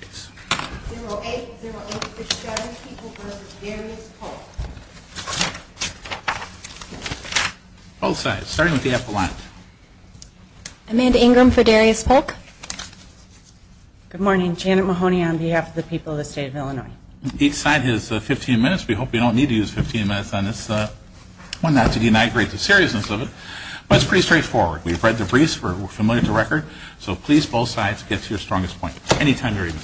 0808 for Shutter People v. Darius Polk Both sides, starting with the epilogue. Amanda Ingram for Darius Polk. Good morning, Janet Mahoney on behalf of the people of the state of Illinois. Each side has 15 minutes. We hope you don't need to use 15 minutes on this one, not to denigrate the seriousness of it, but it's pretty straightforward. We've read the briefs, we're familiar with the record, so please both sides get to your strongest point. Any time you're ready.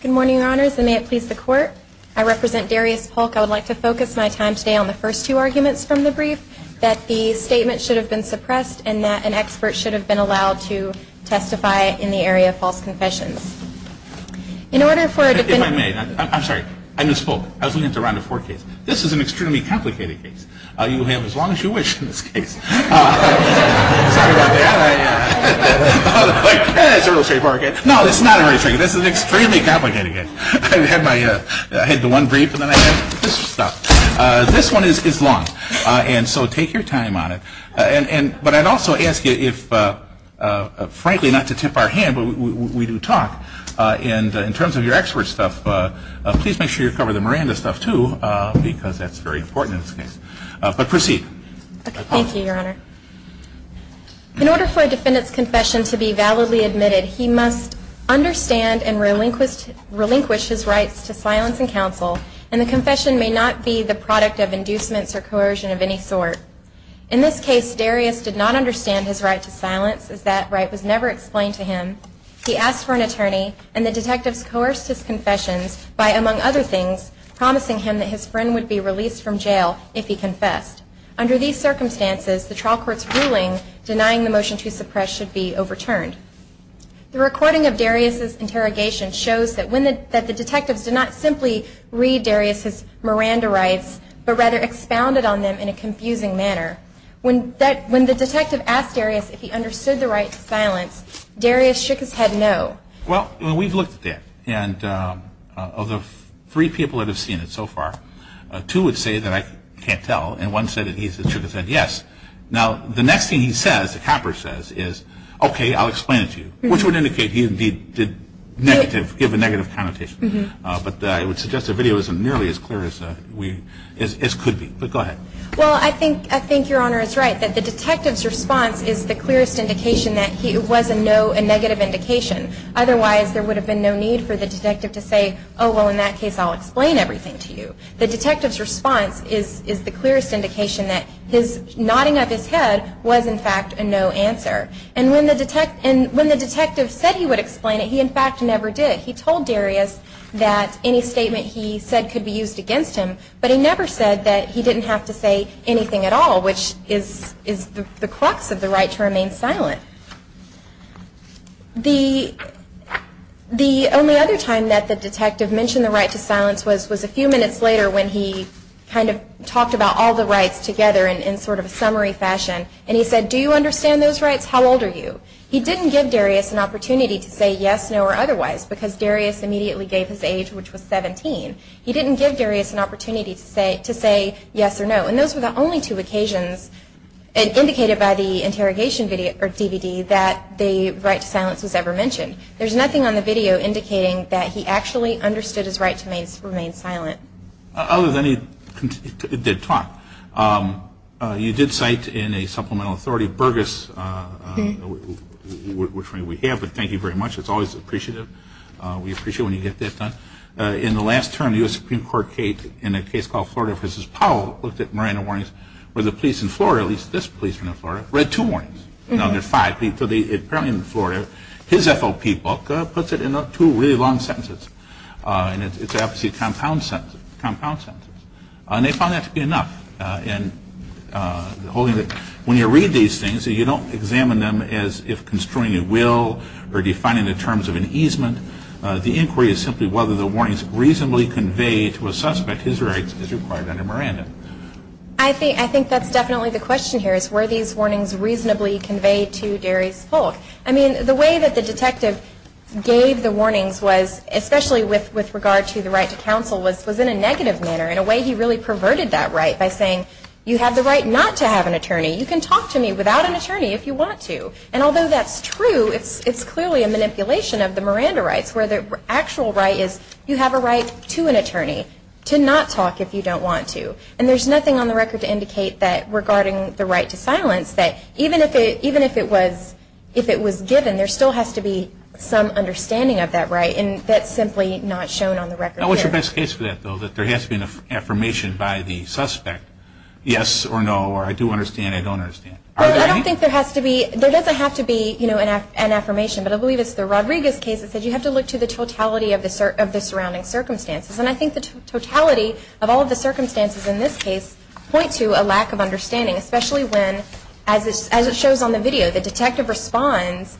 Good morning, Your Honors, and may it please the Court. I represent Darius Polk. I would like to focus my time today on the first two arguments from the brief, that the statement should have been suppressed and that an expert should have been allowed to testify in the area of false confessions. In order for a defendant to- If I may, I'm sorry. I'm Ms. Polk. I was looking at the Round of Four case. This is an extremely complicated case. You have as long as you wish in this case. Sorry about that. It's a real estate market. No, it's not a real estate market. This is an extremely complicated case. I had my- I had the one brief and then I had this stuff. This one is long, and so take your time on it. But I'd also ask you if- frankly, not to tip our hand, but we do talk, and in terms of your expert stuff, please make sure you cover the Miranda stuff, too, because that's very important in this case. But proceed. Okay. Thank you, Your Honor. In order for a defendant's confession to be validly admitted, he must understand and relinquish his rights to silence and counsel, and the confession may not be the product of inducements or coercion of any sort. In this case, Darius did not understand his right to silence, as that right was never explained to him. He asked for an attorney and the detectives coerced his confessions by, among other things, promising him that his friend would be released from jail if he confessed. Under these circumstances, the trial court's ruling denying the motion to suppress should be overturned. The recording of Darius's interrogation shows that when the- that the detectives did not simply read Darius's Miranda rights, but rather expounded on them in a confusing manner. When that- when the detective asked Darius if he understood the right to silence, Darius shook his head no. Well, we've looked at that, and of the three people that have seen it so far, two would say that I can't tell, and one said that he shook his head yes. Now, the next thing he says, the copper says, is, okay, I'll explain it to you, which would indicate he indeed did negative- give a negative connotation. But I would suggest the video isn't nearly as clear as we- as could be. But go ahead. Well, I think- I think Your Honor is right, that the detective's response is the clearest indication that he- it was a no- a negative indication. Otherwise, there would have been no need for the detective to say, oh, well, in that case, I'll explain everything to you. The detective's response is- is the clearest indication that his nodding of his head was, in fact, a no answer. And when the detect- and when the detective said he would explain it, he, in fact, never did. He told Darius that any statement he said could be used against him, but he never said that he didn't have to say anything at all, which is- is the- the crux of the right to remain silent. The- the only other time that the detective mentioned the right to silence was- was a few minutes later, when he kind of talked about all the rights together in- in sort of a summary fashion. And he said, do you understand those rights? How old are you? He didn't give Darius an opportunity to say yes, no, or otherwise, because Darius immediately gave his age, which was 17. He didn't give Darius an opportunity to say- to say yes or no. And those were the only two occasions indicated by the interrogation video- or DVD that the right to silence was ever mentioned. There's nothing on the video indicating that he actually understood his right to remain silent. Other than he did talk, you did cite in a supplemental authority, Burgess, which we have, but thank you very much. It's always appreciative. We appreciate when you get that done. In the last term, the U.S. Supreme Court, in a case called Florida v. Powell, looked at Miranda warnings, where the police in Florida, at least this policeman in Florida, read two warnings. Now, there are five, but apparently in Florida, his FOP book puts it in two really long sentences. And it's obviously compound sentences. And they found that to be enough. When you read these things, you don't examine them as if construing a will or defining the will. You examine them as if you're trying to find out whether the warnings reasonably convey to a suspect his rights as required under Miranda. I think that's definitely the question here, is were these warnings reasonably conveyed to Darius Polk? I mean, the way that the detective gave the warnings was, especially with regard to the right to counsel, was in a negative manner. In a way, he really perverted that right by saying, you have the right not to have an attorney. You can talk to me without an attorney if you want to. And although that's true, it's clearly a manipulation of the Miranda rights, where the actual right is you have a right to an attorney, to not talk if you don't want to. And there's nothing on the record to indicate that, regarding the right to silence, that even if it was given, there still has to be some understanding of that right. And that's simply not shown on the record here. Now, what's your best case for that, though, that there has been an affirmation by the suspect, yes or no, or I do understand, I don't understand? I don't think there has to be. There doesn't have to be an affirmation. But I believe it's a Rodriguez case that says you have to look to the totality of the surrounding circumstances. And I think the totality of all of the circumstances in this case point to a lack of understanding, especially when, as it shows on the video, the detective responds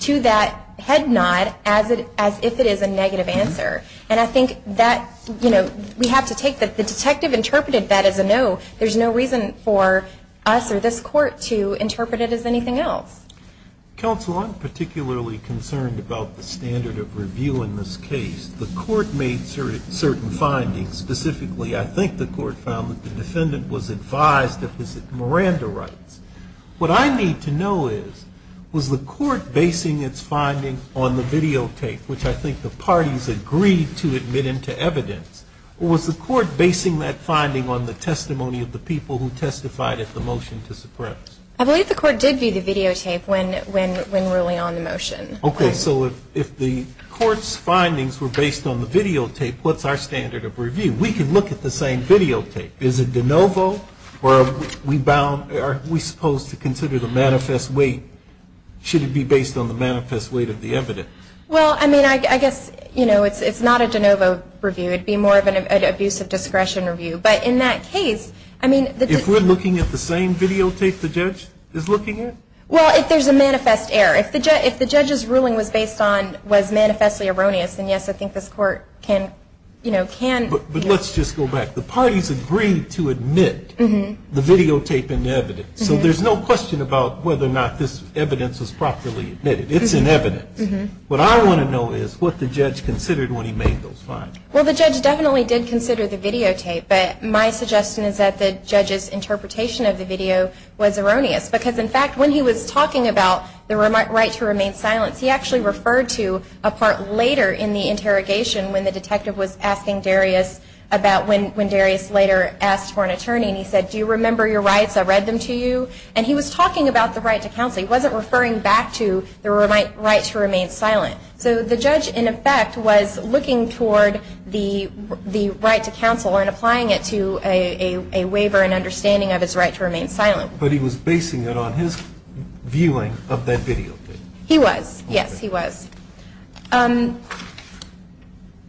to that head nod as if it is a negative answer. And I think that, you know, we have to take that the detective interpreted that as a no. There's no reason for us or this Court to interpret it as anything else. Counsel, I'm particularly concerned about the standard of review in this case. The Court made certain findings. Specifically, I think the Court found that the defendant was advised of his Miranda rights. What I need to know is, was the Court basing its finding on the videotape, which I think the parties agreed to admit into evidence, or was the Court basing that finding on the testimony of the people who testified at the motion to suppress? I believe the Court did view the videotape when ruling on the motion. Okay. So if the Court's findings were based on the videotape, what's our standard of review? We can look at the same videotape. Is it de novo, or are we supposed to consider the manifest weight? Should it be based on the manifest weight of the evidence? Well, I mean, I guess, you know, it's not a de novo review. It would be more of an abuse of discretion review. But in that case, I mean, the defendant... Well, if there's a manifest error. If the judge's ruling was based on, was manifestly erroneous, then yes, I think this Court can, you know, can... But let's just go back. The parties agreed to admit the videotape in evidence. So there's no question about whether or not this evidence was properly admitted. It's in evidence. What I want to know is what the judge considered when he made those findings. Well, the judge definitely did consider the videotape. But my suggestion is that the judge's ruling was erroneous. Because, in fact, when he was talking about the right to remain silent, he actually referred to a part later in the interrogation when the detective was asking Darius about when Darius later asked for an attorney. And he said, do you remember your rights? I read them to you. And he was talking about the right to counsel. He wasn't referring back to the right to remain silent. So the judge, in effect, was looking toward the right to counsel and applying it to a waiver and understanding of his right to remain silent. But he was basing it on his viewing of that videotape. He was. Yes, he was.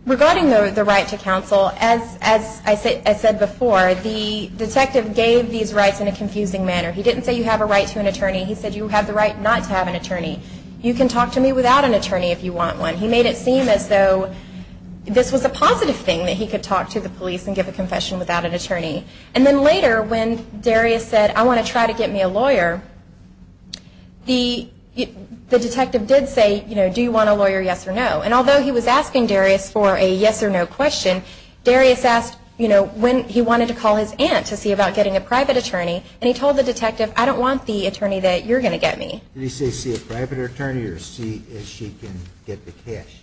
Regarding the right to counsel, as I said before, the detective gave these rights in a confusing manner. He didn't say you have a right to an attorney. He said you have the right not to have an attorney. You can talk to me without an attorney if you want one. He made it seem as though this was a positive thing, that he could talk to the police and give a confession without an attorney. And then later, when Darius said, I want to try to get me a lawyer, the detective did say, do you want a lawyer, yes or no? And although he was asking Darius for a yes or no question, Darius asked when he wanted to call his aunt to see about getting a private attorney. And he told the detective, I don't want the attorney that you're going to get me. Did he say see a private attorney or see if she can get the cash?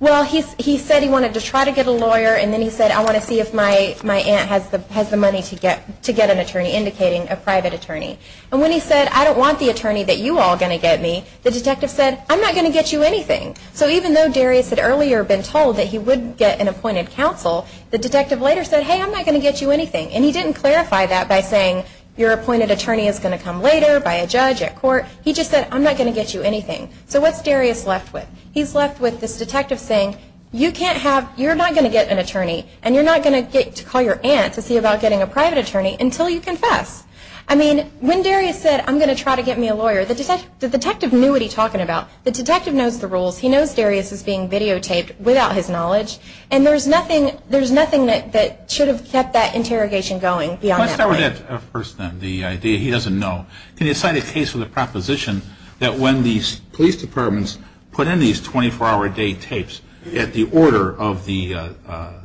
Well, he said he wanted to try to get a lawyer. And then he said, I want to see if my aunt has the money to get an attorney, indicating a private attorney. And when he said, I don't want the attorney that you all are going to get me, the detective said, I'm not going to get you anything. So even though Darius had earlier been told that he would get an appointed counsel, the detective later said, hey, I'm not going to get you anything. And he didn't clarify that by saying your appointed attorney is going to come later by a judge at court. He just said, I'm not going to get you anything. So what's Darius left with? He's left with this detective saying, you can't have, you're not going to get an attorney. And you're not going to get to call your aunt to see about getting a private attorney until you confess. I mean, when Darius said, I'm going to try to get me a lawyer, the detective knew what he was talking about. The detective knows the rules. He knows Darius is being videotaped without his knowledge. And there's nothing that should have kept that interrogation going beyond that point. Let's start with that first, then, the idea he doesn't know. Can you cite a case with a proposition that when these police departments put in these 24-hour-a-day tapes at the order of the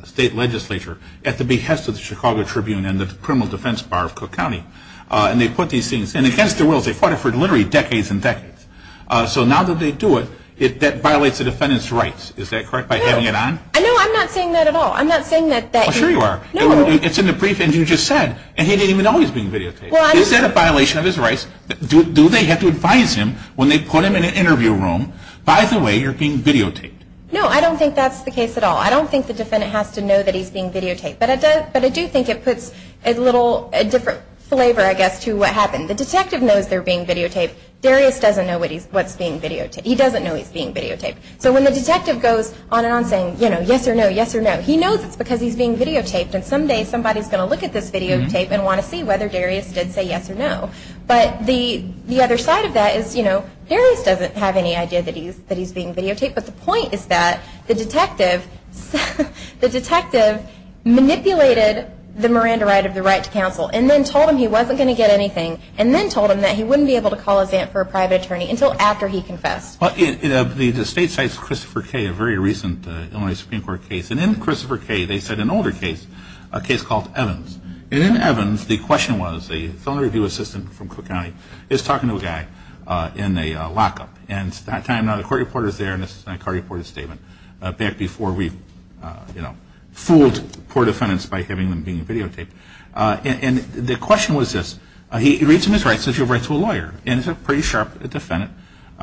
state legislature, at the behest of the Chicago Tribune and the Criminal Defense Bar of Cook County, and they put these things in against their wills, they fought it for literally decades and decades. So now that they do it, that violates a defendant's rights. Is that correct, by having it on? No, I'm not saying that at all. I'm not saying that that... Oh, sure you are. It's in the brief, and you just said, and he didn't even know he was being videotaped. Is that a violation of his rights? Do they have to advise him when they put him in an interview room, by the way, you're being videotaped? No, I don't think that's the case at all. I don't think the defendant has to know that he's being videotaped. But I do think it puts a little, a different flavor, I guess, to what happened. The detective knows they're being videotaped. Darius doesn't know what's being videotaped. He doesn't know he's being videotaped. So when the detective goes on and on saying, you know, yes or no, yes or no, he knows it's because he's being videotaped, and someday somebody's going to look at this videotape and want to see whether Darius did say yes or no. But the other side of that is, you know, Darius doesn't have any idea that he's being videotaped. But the point is that the detective manipulated the Miranda right of the right to counsel, and then told him he wasn't going to get anything, and then told him that he wouldn't be able to call his aunt for a private attorney until after he confessed. Well, the state cites Christopher Kaye, a very recent Illinois Supreme Court case. And in Christopher Kaye, they said an older case, a case called Evans. And in Evans, the question was, the film review assistant from Cook County is talking to a guy in a lockup, and at that time, the court reporter is there, and it's a court reporter's statement, back before we fooled poor defendants by having them being videotaped. And the question was this. He reads him his rights. He says, you have a right to a lawyer. And it's a pretty sharp defendant.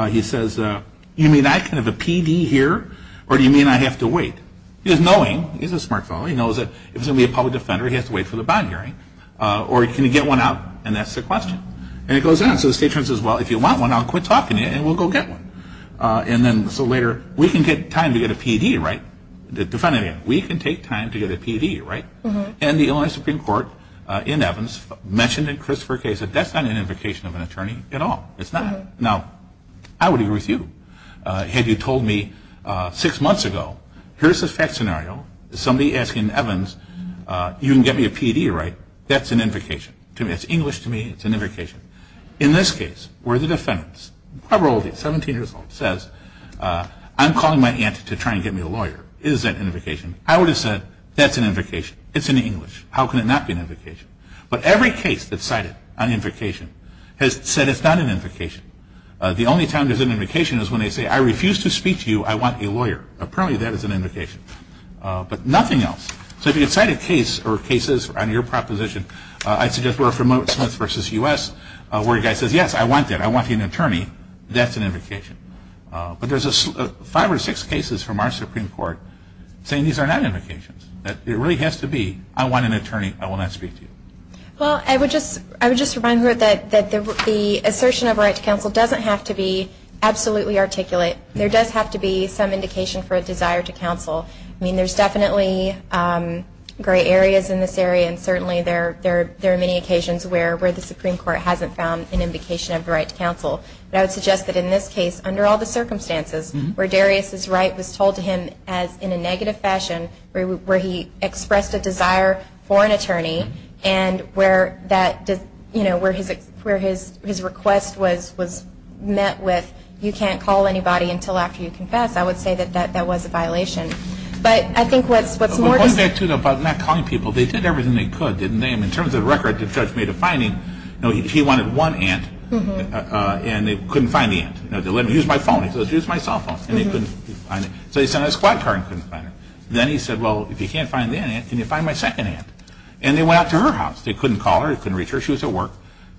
He says, you mean I can have a PD here, or do you mean I have to wait? He's knowing. He's a smart fellow. He knows that if he's going to be a public defender, he has to wait for the bond hearing. Or can you get one out? And that's the question. And it goes on. So the state says, well, if you want one, I'll quit talking to you, and we'll go get one. And then so later, we can get time to get a PD, right? The defendant, we can take time to get a PD, right? And the Illinois Supreme Court, in Evans, mentioned in Christopher Kaye's case that that's not an invocation of an attorney at all. It's not. Now, I would agree with you. Had you told me six months ago, here's the fact scenario, somebody asking Evans, you can get me a PD, right? That's an invocation. To me, it's English. To me, it's an invocation. In this case, where the defendant's, probably 17 years old, says, I'm calling my aunt to try and get me a lawyer. Is that an invocation? I would have said, that's an invocation. It's in English. How can it not be an invocation? But every case that's cited on invocation has said it's not an invocation. The only time there's an invocation is when they say, I refuse to speak to you. I want a lawyer. Apparently, that is an invocation. But nothing else. So if you can cite a case or cases on your proposition, I suggest we're from Smith v. U.S., where a guy says, yes, I want that. I want an attorney. That's an invocation. But there's five or six cases from our Supreme Court saying these are not invocations. It really has to be, I want an attorney. I will not speak to you. Well, I would just remind her that the assertion of right to counsel doesn't have to be absolutely articulate. There does have to be some indication for a desire to counsel. I mean, there's areas in this area, and certainly there are many occasions where the Supreme Court hasn't found an invocation of the right to counsel. But I would suggest that in this case, under all the circumstances, where Darius's right was told to him in a negative fashion, where he expressed a desire for an attorney, and where his request was met with, you can't call anybody until after you confess, I would say that that was a violation. But I think what's more to say... But going back to not calling people, they did everything they could, didn't they? I mean, in terms of the record, the judge made a finding. He wanted one aunt, and they couldn't find the aunt. They let him use my phone. He says, use my cell phone. And they couldn't find it. So he sent out a squad car and couldn't find her. Then he said, well, if you can't find the aunt, can you find my second aunt? And they went out to her house. They couldn't call her. They couldn't reach her. She was at work.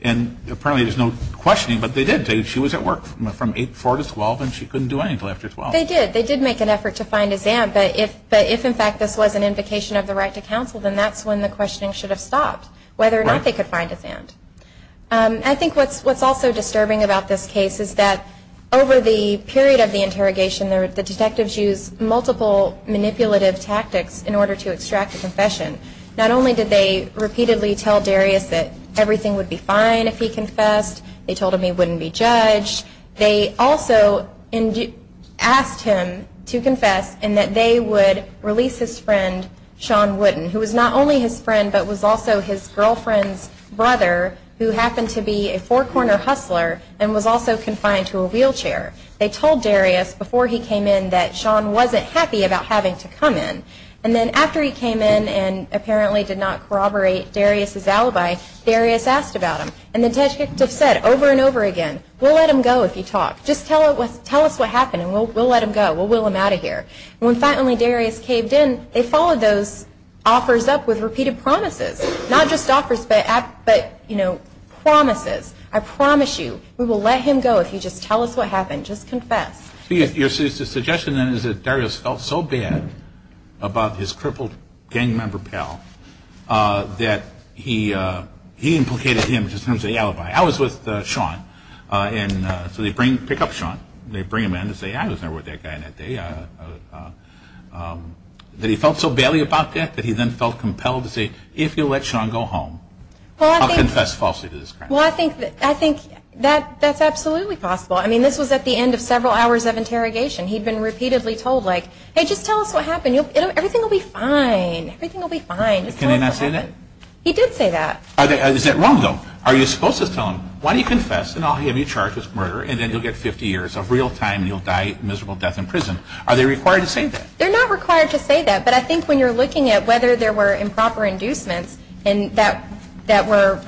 And apparently there's no questioning, but they did. She was at work from 4 to 12, and she couldn't do anything until after 12. But they did. They did make an effort to find his aunt. But if, in fact, this was an invocation of the right to counsel, then that's when the questioning should have stopped, whether or not they could find his aunt. I think what's also disturbing about this case is that over the period of the interrogation, the detectives used multiple manipulative tactics in order to extract a confession. Not only did they repeatedly tell Darius that everything would be fine if he confessed, they told him he wouldn't be judged. They also asked him to confess and that they would release his friend, Sean Wooden, who was not only his friend, but was also his girlfriend's brother, who happened to be a four-corner hustler and was also confined to a wheelchair. They told Darius before he came in that Sean wasn't happy about having to come in. And then after he came in and apparently did not corroborate Darius's alibi, Darius asked about him. And the detectives said over and over again, we'll let him go if you talk. Just tell us what happened and we'll let him go. We'll wheel him out of here. When finally Darius caved in, they followed those offers up with repeated promises. Not just offers, but, you know, promises. I promise you, we will let him go if you just tell us what happened. Just confess. So your suggestion then is that Darius felt so bad about his crippled gang member pal that he implicated him to send the alibi. I was with Sean. And so they bring, pick up Sean. They bring him in to say, I was there with that guy that day. That he felt so badly about that that he then felt compelled to say, if you let Sean go home, I'll confess falsely to this crime. Well, I think that's absolutely possible. I mean, this was at the end of several hours of interrogation. He'd been repeatedly told, like, hey, just tell us what happened. Everything will be fine. Everything will be fine. Can he not say that? He did say that. Is that wrong, though? Are you supposed to tell him, why don't you confess and I'll give you charge of murder and then you'll get 50 years of real time and you'll die a miserable death in prison. Are they required to say that? They're not required to say that. But I think when you're looking at whether there were improper inducements and that were,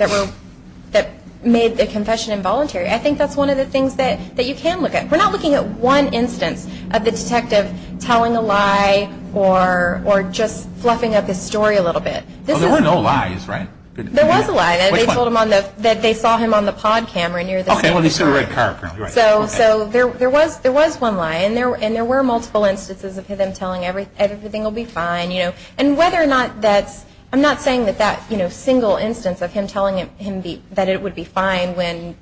that made the confession involuntary, I think that's one of the things that you can look at. We're not looking at one instance of the detective telling a lie or just fluffing up his story a little bit. There were no lies, right? There was a lie. They told him that they saw him on the pod camera near the same car. Okay, well, they saw the red car, apparently. So there was one lie and there were multiple instances of him telling everything will be fine. And whether or not that's, I'm not saying that that single instance of him telling him that it would be fine when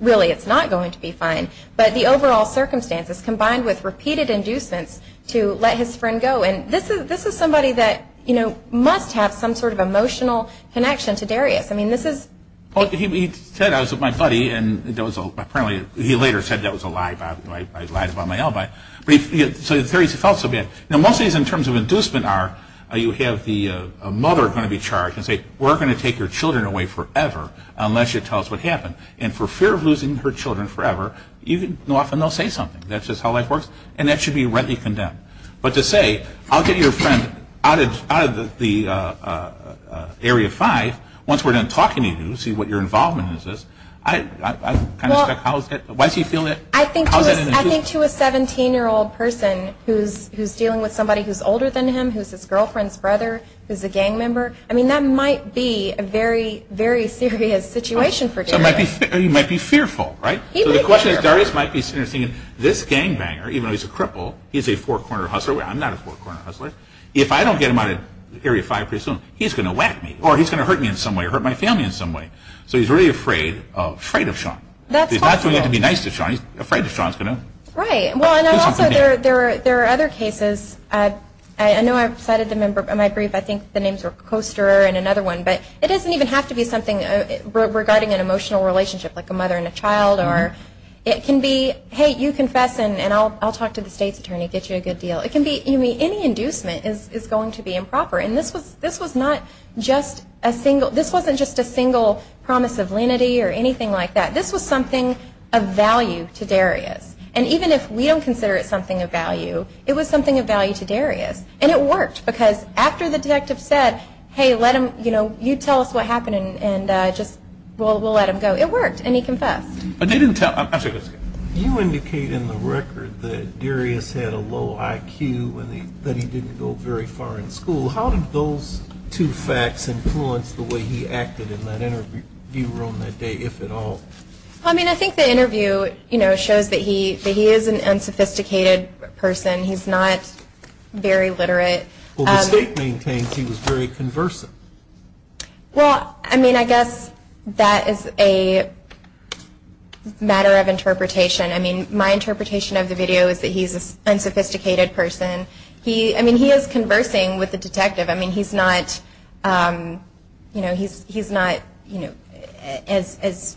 really it's not going to be fine. But the overall circumstances combined with repeated inducements to let his friend go and this is somebody that, you know, must have some sort of emotional connection to Darius. I mean, this is... Well, he said, I was with my buddy and there was apparently, he later said that was a lie about, I lied about my alibi. So he felt so bad. Now, most of these in terms of inducement are you have the mother going to be charged and say, we're going to take your children away forever unless you tell us what happened. And for fear of losing her children forever, even often they'll say something. That's just how life works. And that should be readily condemned. But to say, I'll get your friend out of the area five, once we're done talking to you, see what your involvement is, I kind of suspect, why does he feel that? I think to a 17-year-old person who's dealing with somebody who's older than him, who's his girlfriend's brother, who's a gang member, I mean, that might be a very, very serious situation for Darius. He might be fearful, right? He might be fearful. So the question is, Darius might be serious thinking, this gangbanger, even though he's a cripple, he's a four-corner hustler. I'm not a four-corner hustler. If I don't get him out of area five pretty soon, he's going to whack me or he's going to hurt me in some way or hurt my family in some way. So he's really afraid of, afraid of Sean. That's possible. He's not going to have to be nice to Sean. He's afraid that Sean's going to do something bad. Right. Well, and also, there are other cases. I know I've cited the member of my brief. I think the names are Coaster and another one. But it doesn't even have to be something regarding an emotional relationship, like a mother and a child. Or it can be, hey, you confess and I'll talk to the state's attorney, get you a good deal. It can be any inducement is going to be improper. And this was not just a single, this wasn't just a single promise of lenity or anything like that. This was something of value to Darius. And even if we don't consider it something of value, it was something of value to Darius. And it worked because after the detective said, hey, let him, you know, you tell us what happened and just, well, we'll let him go. It worked. And he confessed. But they didn't tell. You indicate in the record that Darius had a low IQ and that he didn't go very far in school. How did those two facts influence the way he acted in that interview room that day, if at all? I mean, I think the interview, you know, shows that he is an unsophisticated person. He's not very literate. Well, the state maintains he was very conversant. Well, I mean, I guess that is a matter of interpretation. I mean, my interpretation of the video is that he's an unsophisticated person. He, I mean, he is conversing with the detective. I mean, he's not, you know, he's not, you know, as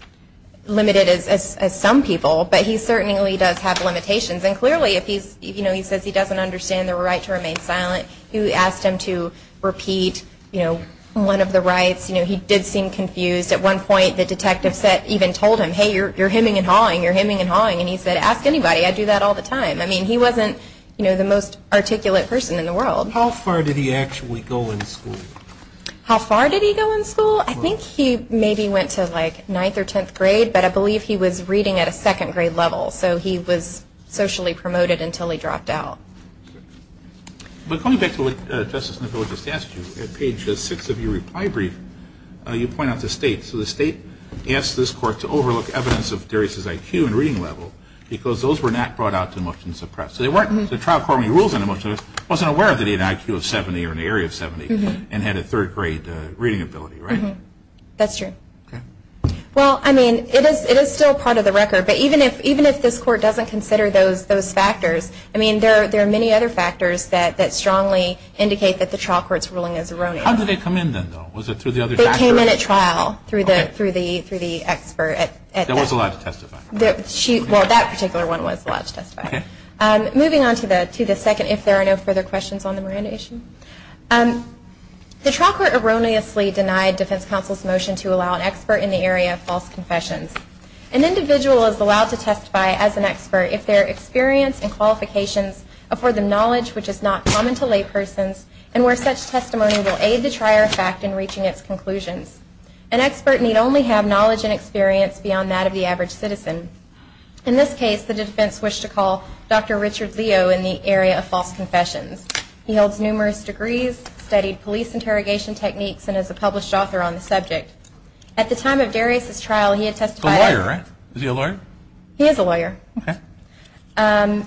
limited as some people. But he certainly does have limitations. And clearly if he's, you know, he says he doesn't understand the right to remain silent, he asked him to repeat, you know, one of the rights. You know, he did seem confused. At one point, the detective said, even told him, hey, you're hemming and hawing. You're hemming and hawing. And he said, ask anybody. I do that all the time. I mean, he wasn't, you know, the most articulate person in the world. How far did he actually go in school? How far did he go in school? I think he maybe went to like ninth or tenth grade. But I believe he was reading at a second grade level. So he was socially promoted until he dropped out. But coming back to what Justice McCullough just asked you, at page six of your reply brief, you point out the state. So the state asked this court to overlook evidence of Darius' IQ and reading level. Because those were not brought out to the motions of press. So they weren't, the trial court rules on emotions wasn't aware that he had an IQ of 70 or an area of 70 and had a third grade reading ability, right? That's true. Well, I mean, it is still part of the record. But even if this court doesn't consider those factors, I mean, there are many other factors that strongly indicate that the trial court's ruling is erroneous. How did they come in then, though? Was it through the other factor? They came in at trial through the expert. That was allowed to testify. Well, that particular one was allowed to testify. Moving on to the second, if there are no further questions on the Miranda issue. The trial court erroneously denied defense counsel's motion to allow an expert in the area of false confessions. An individual is allowed to testify as an expert if their experience and qualifications afford them knowledge which is not common to laypersons and where such testimony will aid the trier of fact in reaching its conclusions. An expert need only have knowledge and experience beyond that of the average citizen. In this case, the defense wished to call Dr. Richard Leo in the area of false confessions. He holds numerous degrees, studied police interrogation techniques, and is a published author on the subject. At the time of Darius's trial, he had testified. He's a lawyer, right? Is he a lawyer? He is a lawyer. Okay.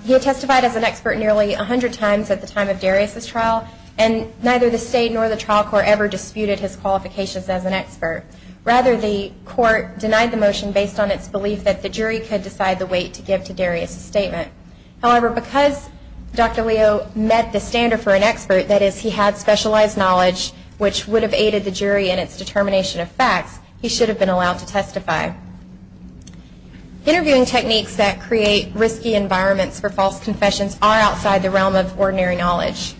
He had testified as an expert nearly 100 times at the time of Darius's trial and neither the state nor the trial court ever disputed his qualifications as an expert. Rather, the court denied the motion based on its belief that the jury could decide the weight to give to Darius's statement. However, because Dr. Leo met the standard for an expert, that is, he had specialized knowledge which would have aided the jury in its determination of facts, he should have been allowed to testify. Interviewing techniques that create risky environments for false confessions are outside the realm of ordinary knowledge.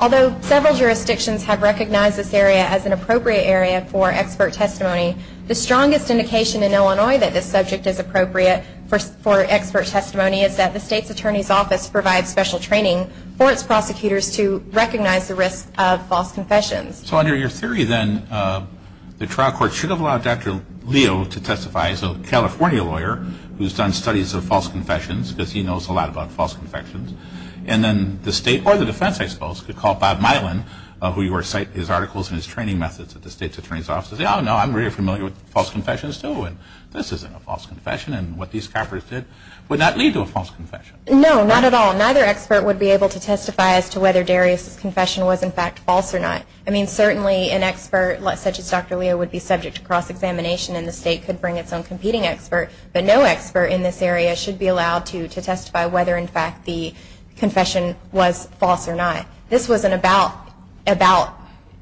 Although several jurisdictions have recognized this area as an appropriate area for expert testimony, the strongest indication in Illinois that this subject is appropriate for expert testimony is that the state's attorney's office provides special training for its prosecutors to recognize the risk of false confessions. So under your theory, then, the trial court should have allowed Dr. Leo to testify as a California lawyer who's done studies of false confessions because he knows a lot about false confessions, and then the state or the defense, I suppose, could call Bob Mylan, who you recite his articles and his training methods at the state's attorney's office, and say, oh, no, I'm very familiar with false confessions, too, and this isn't a false confession, and what these coppers did would not lead to a false confession. No, not at all. Neither expert would be able to testify as to whether Darius's confession was, in fact, false or not. I mean, certainly an expert such as Dr. Leo would be subject to cross-examination, and the state could bring its own competing expert, but no expert in this area should be allowed to testify whether, in fact, the confession was false or not. This wasn't about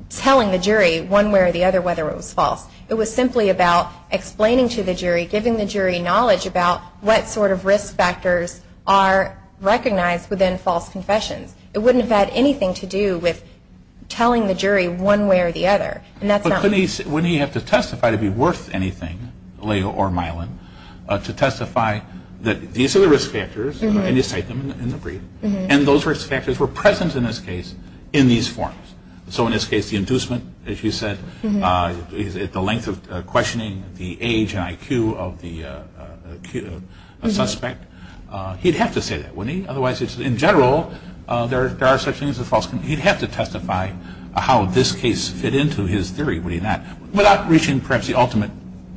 telling the jury one way or the other whether it was false. It was simply about explaining to the jury, giving the jury knowledge about what sort of risk factors are recognized within false confessions. It wouldn't have had anything to do with telling the jury one way or the other. But wouldn't he have to testify to be worth anything, Leo or Mylan, to testify that these are the risk factors, and you cite them in the brief, and those risk factors were present in this case in these forms. So in this case, the inducement, as you said, the length of questioning, the age and IQ of the suspect, he'd have to say that, wouldn't he? Otherwise, in general, there are such things as false confessions. He'd have to testify how this case fit into his theory, wouldn't he not, without reaching perhaps the ultimate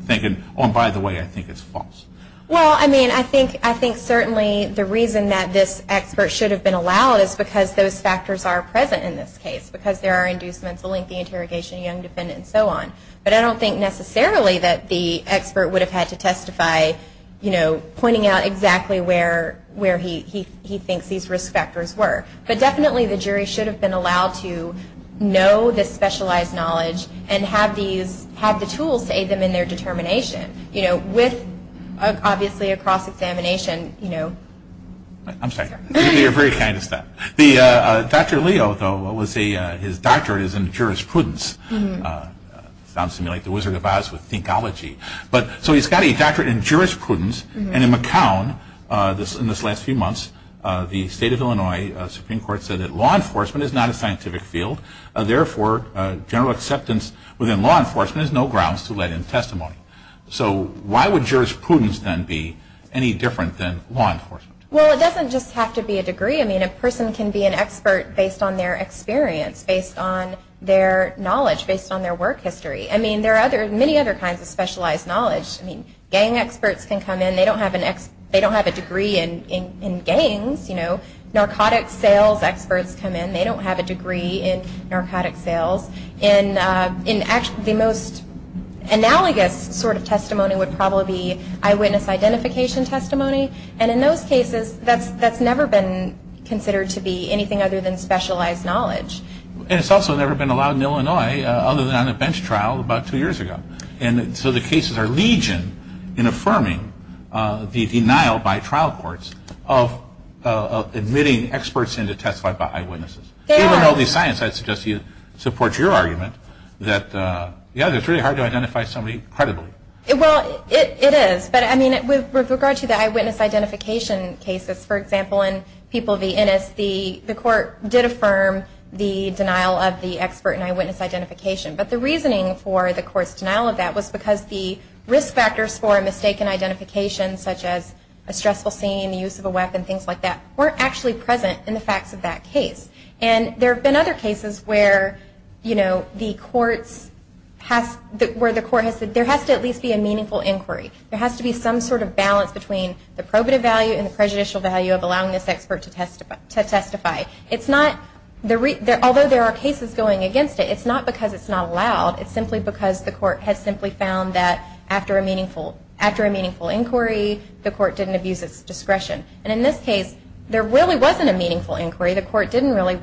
thinking, oh, and by the way, I think it's false. Well, I mean, I think certainly the reason that this expert should have been allowed is because those factors are present in this case. Because there are inducements, a lengthy interrogation, a young defendant, and so on. But I don't think necessarily that the expert would have had to testify, you know, pointing out exactly where he thinks these risk factors were. But definitely the jury should have been allowed to know this specialized knowledge, and have the tools to aid them in their determination. You know, with obviously a cross-examination, you know. I'm sorry. You're very kind to stop. Dr. Leo, though, his doctorate is in jurisprudence. Sounds to me like the Wizard of Oz with Thinkology. So he's got a doctorate in jurisprudence, and in McCown, in this last few months, the state of Illinois Supreme Court said that law enforcement is not a scientific field. Therefore, general acceptance within law enforcement is no grounds to let in testimony. So why would jurisprudence then be any different than law enforcement? Well, it doesn't just have to be a degree. I mean, a person can be an expert based on their experience, based on their knowledge, based on their work history. I mean, there are many other kinds of specialized knowledge. I mean, gang experts can come in. They don't have a degree in gangs. You know, narcotics sales experts come in. They don't have a degree in narcotics sales. And the most analogous sort of testimony would probably be eyewitness identification testimony. And in those cases, that's never been considered to be anything other than specialized knowledge. And it's also never been allowed in Illinois other than on a bench trial about two years ago. And so the cases are legion in affirming the denial by trial courts of admitting experts in to testify by eyewitnesses. They are. I don't know the science. I'd suggest you support your argument that, yeah, it's really hard to identify somebody credibly. Well, it is. But, I mean, with regard to the eyewitness identification cases, for example, in People v. Innis, the court did affirm the denial of the expert in eyewitness identification. But the reasoning for the court's denial of that was because the risk factors for a mistaken identification, such as a stressful scene, the use of a weapon, things like that, weren't actually present in the facts of that case. And there have been other cases where the court has said there has to at least be a meaningful inquiry. There has to be some sort of balance between the probative value and the prejudicial value of allowing this expert to testify. Although there are cases going against it, it's not because it's not allowed. It's simply because the court has found that after a meaningful inquiry, the court didn't abuse its discretion. And in this case, there really wasn't a meaningful inquiry. The court didn't really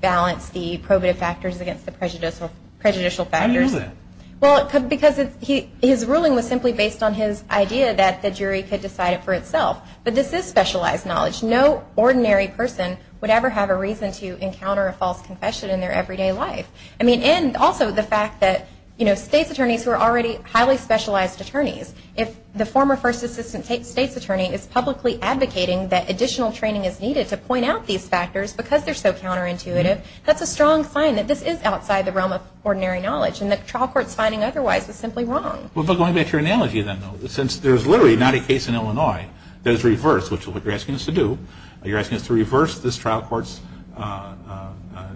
balance the probative factors against the prejudicial factors. How is that? Well, because his ruling was simply based on his idea that the jury could decide it for itself. But this is specialized knowledge. No ordinary person would ever have a reason to encounter a false confession in their everyday life. I mean, and also the fact that states' attorneys who are already highly specialized attorneys, if the former first assistant state's attorney is publicly advocating that additional training is needed to point out these factors because they're so counterintuitive, that's a strong sign that this is outside the realm of ordinary knowledge. And the trial court's finding otherwise is simply wrong. Well, but going back to your analogy then, though, since there's literally not a case in Illinois that is reversed, which is what you're asking us to do. You're asking us to reverse this trial court's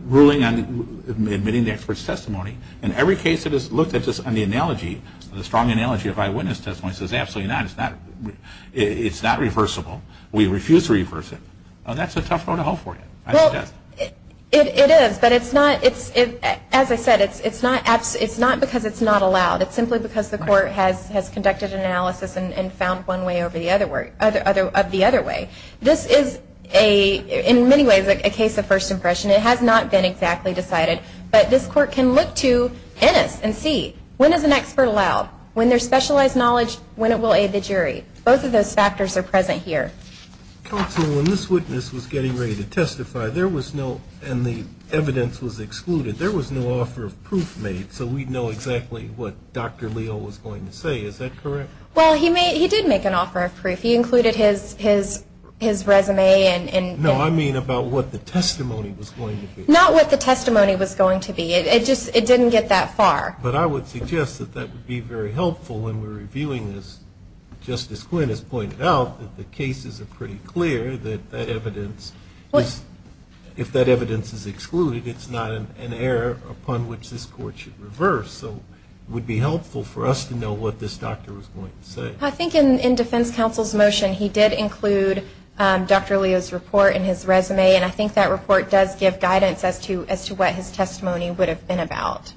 ruling on admitting the expert's testimony. And every case that is looked at just on the analogy, the strong analogy of eyewitness testimony, says absolutely not, it's not reversible. We refuse to reverse it. That's a tough road to hoe for you. It is, but it's not, as I said, it's not because it's not allowed. It's simply because the court has conducted an analysis and found one way of the other way. This is, in many ways, a case of first impression. It has not been exactly decided, but this court can look to Ennis and see when is an expert allowed, when there's specialized knowledge, when it will aid the jury. Both of those factors are present here. Counsel, when this witness was getting ready to testify, there was no, and the evidence was excluded, there was no offer of proof made so we'd know exactly what Dr. Leo was going to say. Is that correct? Well, he did make an offer of proof. He included his resume. No, I mean about what the testimony was going to be. Not what the testimony was going to be. It didn't get that far. But I would suggest that that would be very helpful when we're reviewing this. Justice Quinn has pointed out that the cases are pretty clear that that evidence if that evidence is excluded, it's not an error upon which this court should reverse. So it would be helpful for us to know what this doctor was going to say. I think in defense counsel's motion he did include Dr. Leo's report and his resume and I think that report does give guidance as to what his testimony would have been about.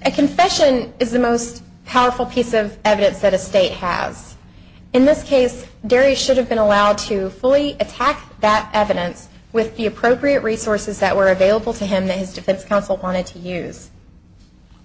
A confession is the most powerful piece of evidence that a state has. In this case, Darry should have been allowed to fully attack that evidence with the appropriate resources that were available to him that his defense counsel wanted to use.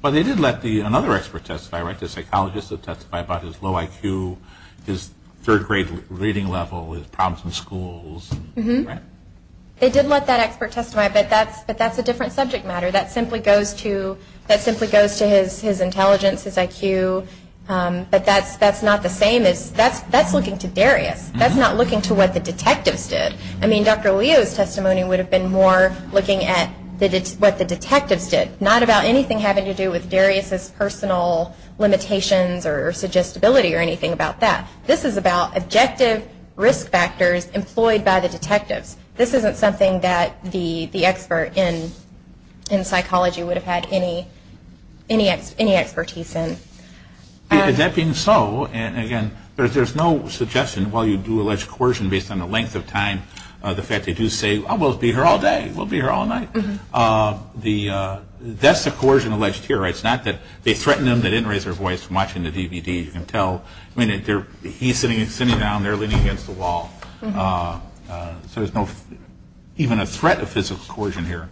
But they did let another expert testify, right? The psychologist that testified about his low IQ, his third grade reading level, his problems in schools. They did let that expert testify, but that's a different subject matter. That simply goes to his intelligence, his IQ, but that's not the same. That's looking to Darius. That's not looking to what the detectives did. I mean, Dr. Leo's testimony would have been more looking at what the detectives did, not about anything having to do with Darius's personal limitations or suggestibility or anything about that. This is about objective risk factors employed by the detectives. This isn't something that the expert in psychology would have had any expertise in. That being so, and again, there's no suggestion while you do alleged coercion based on the length of time, the fact they do say we'll be here all day, we'll be here all night. That's the coercion alleged here, right? It's not that they threatened him, they didn't raise their voice from watching the DVD. You can tell. I mean, he's sitting down there leaning against the wall. So there's no, even a threat of physical coercion here.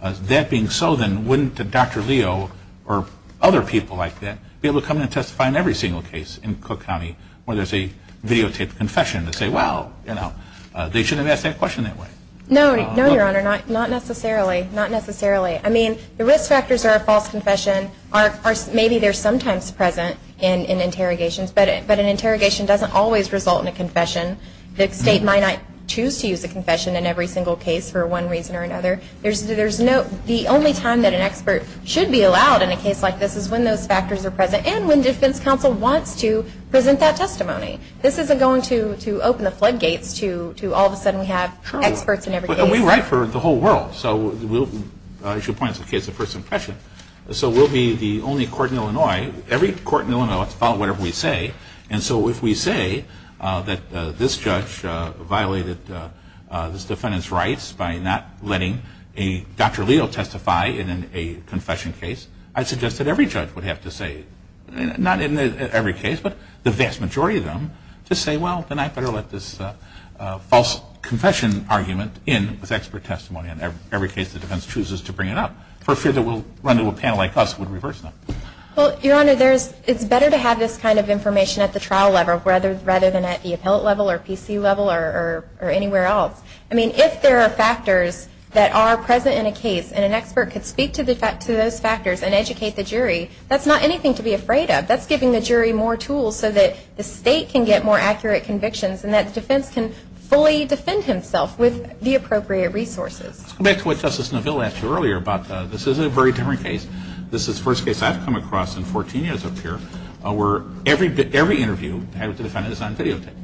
That being so then, wouldn't Dr. Leo or other people like that be able to come in and testify in every single case in Cook County where there's a videotaped confession and say, well, they shouldn't have asked that question that way. No, your honor, not necessarily. Not necessarily. I mean, the risk factors are a false confession. Maybe they're sometimes present in interrogations, but an interrogation doesn't always result in a confession. The state might not choose to use a confession in every single case for one reason or another. There's no the only time that an expert should be allowed in a case like this is when those factors are present and when defense counsel wants to present that testimony. This isn't going to open the floodgates to all of a sudden we have experts in every case. But we write for the whole world, so we'll, as you point out, it's a case of first impression. So we'll be the only court in Illinois, every court in Illinois will follow whatever we say, and so if we say that this judge violated this defendant's rights by not letting a Dr. Leo testify in a confession case, I'd suggest that every judge would have to say, not in every case, but the vast majority of them, to say, well, then I better let this false confession argument in with expert testimony in every case the defense chooses to bring it up. For fear that a panel like us would reverse that. Well, your honor, it's better to have this kind of information at the trial level rather than at the appellate level or PC level or anywhere else. I mean, if there are factors that are present in a case and an expert could speak to those factors and educate the jury, that's not anything to be afraid of. That's giving the jury more tools so that the state can get more accurate convictions and that the defense can fully defend himself with the appropriate resources. Let's go back to what Justice Neville asked you earlier about this is a very different case. This is the first case I've come across in 14 years up here where every interview the defendant is on videotape.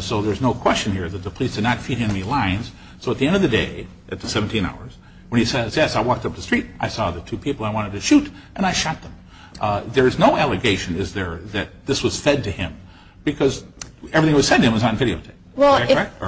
So there's no allegation here that the police did not feed him any lines. So at the end of the day, at the 17 hours when he says, yes, I walked up the street, I saw the two people I wanted to shoot, and I shot them. There is no allegation that this was fed to him because everything that was said to him was on videotape.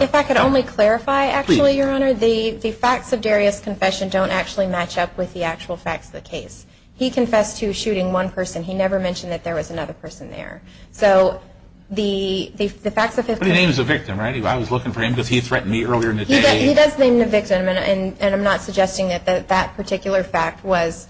If I could only clarify, actually, your honor, the facts of Darius' confession don't actually match up with the actual facts of the case. He confessed to shooting one person. He never mentioned that there was another person there. So the facts of the case. But he names the victim, right? I was looking for him because he threatened me earlier in the day. He does name the victim, and I'm not suggesting that that particular fact was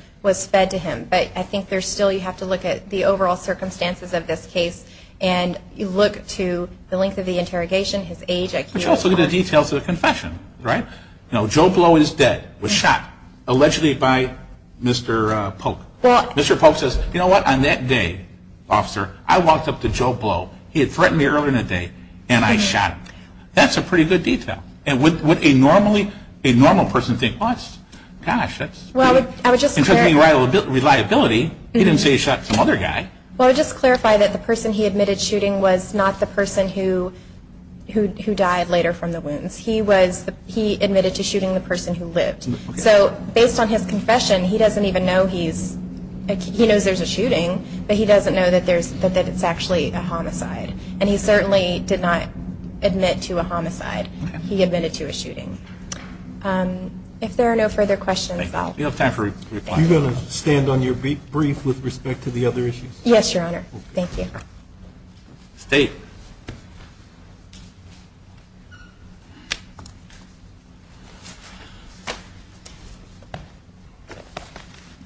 fed to him. But I think there's still, you have to look at the overall circumstances of this case and you look to the length of the interrogation, his age, IQ. But you also need the details of the confession, right? Joe Blow is dead, was shot, allegedly by Mr. Polk. Mr. Polk says, you know what, on that day, officer, I walked up to him on that day and I shot him. That's a pretty good detail. Would a normal person think, gosh, that's pretty interesting reliability. He didn't say he shot some other guy. Well, I would just clarify that the person he admitted shooting was not the person who died later from the wounds. He was, he admitted to shooting the person who lived. So based on his confession, he doesn't even know he's, he knows there's a shooting, but he doesn't know that there's, that it's actually a homicide. And he certainly did not admit to a homicide. He admitted to a shooting. If there are no further questions, I'll. We have time for a reply. Are you going to stand on your brief with respect to the other issues? Yes, your honor. Thank you. State.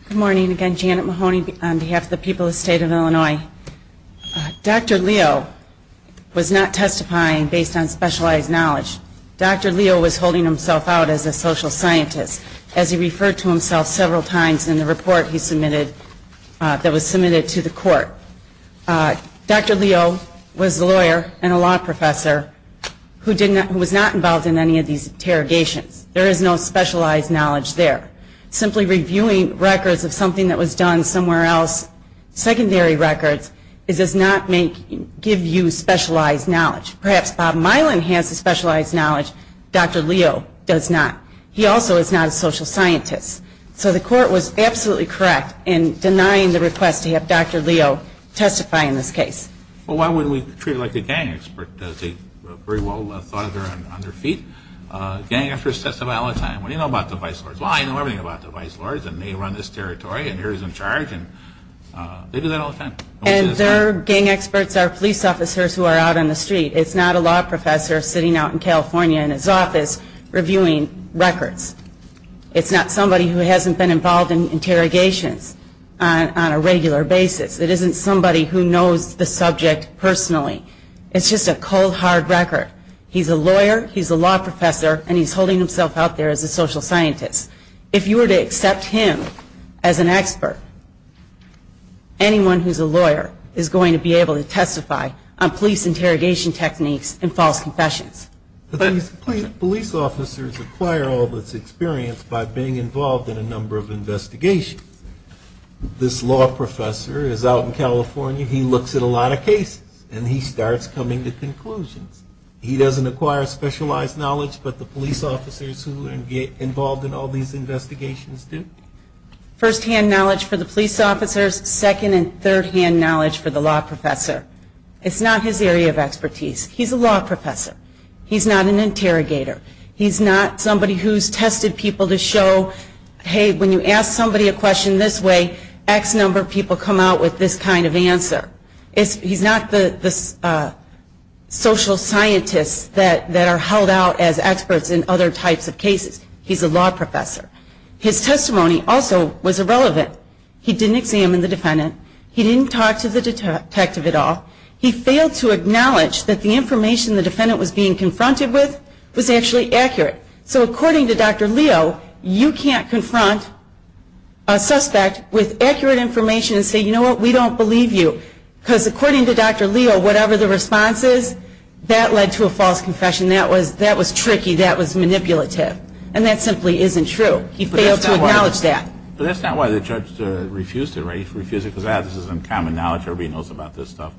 Good morning. Again, Janet Mahoney on behalf of the people of the state of Minnesota. Dr. Leo was not testifying based on specialized knowledge. Dr. Leo was holding himself out as a social scientist as he referred to himself several times in the report he submitted that was submitted to the court. Dr. Leo was a lawyer and a law professor who did not, who was not involved in any of these interrogations. There is no specialized knowledge there. Simply reviewing records of something that was done somewhere else, secondary records, does not make, give you specialized knowledge. Perhaps Bob Mylan has the specialized knowledge. Dr. Leo does not. He also is not a social scientist. So the court was absolutely correct in denying the request to have Dr. Leo testify in this case. Well, why wouldn't we treat it like a gang expert? Very well thought of on their feet. Gang experts testify all the time. What do you know about the vice lords? Well, I know everything about the vice lords and they run this territory and they're in charge and they do that all the time. And their gang experts are police officers who are out on the street. It's not a law professor sitting out in California in his office reviewing records. It's not somebody who hasn't been involved in interrogations on a regular basis. It isn't somebody who knows the subject personally. It's just a cold, hard record. He's a lawyer, he's a law professor, and he's holding himself out there as a social scientist. If you were to accept him as an expert, anyone who's a lawyer is going to be able to testify on police interrogation techniques and false confessions. Police officers acquire all this experience by being involved in a number of investigations. This law professor is out in California, he looks at a lot of cases, and he starts coming to conclusions. He doesn't acquire specialized knowledge, but the police officers who are involved in all these investigations do. First-hand knowledge for the police officers, second and third-hand knowledge for the law professor. It's not his area of expertise. He's a law professor. He's not an interrogator. He's not somebody who's tested people to show, hey, when you ask somebody a question this way, X number of people come out with this kind of answer. He's not the social scientist that are held out as experts in other types of cases. He's a law professor. His testimony also was irrelevant. He didn't examine the defendant. He didn't talk to the detective at all. He failed to acknowledge that the information the defendant was being confronted with was actually accurate. So according to Dr. Leo, you can't confront a suspect with accurate information and say, you know what, we don't believe you. Because according to Dr. Leo, whatever the response is, that led to a false confession. That was tricky. That was manipulative. And that simply isn't true. He failed to acknowledge that. But that's not why the judge refused it, right? He refused it because this is uncommon knowledge. Everybody knows about this stuff.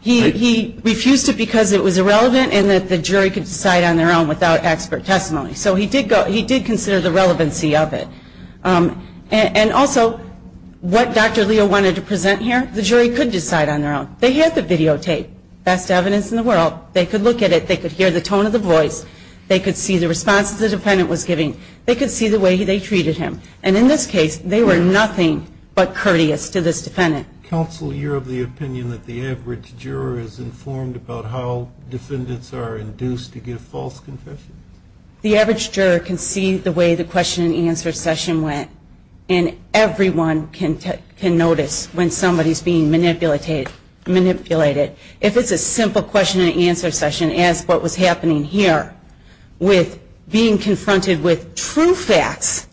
He refused it because it was irrelevant and that the jury could decide on their own without expert testimony. So he did consider the relevancy of it. And also, what Dr. Leo wanted to present here, the jury could decide on their own. They had the videotape. Best evidence in the world. They could look at it. They could hear the tone of the voice. They could see the response the defendant was giving. They could see the way they treated him. And in this case, they were nothing but courteous to this defendant. Counsel, you're of the opinion that the average juror is informed about how defendants are induced to give false confessions? The average juror can see the way the question and answer session went. And everyone can notice when somebody's being manipulated. If it's a simple question and answer session, as what was happening here, with being confronted with true facts,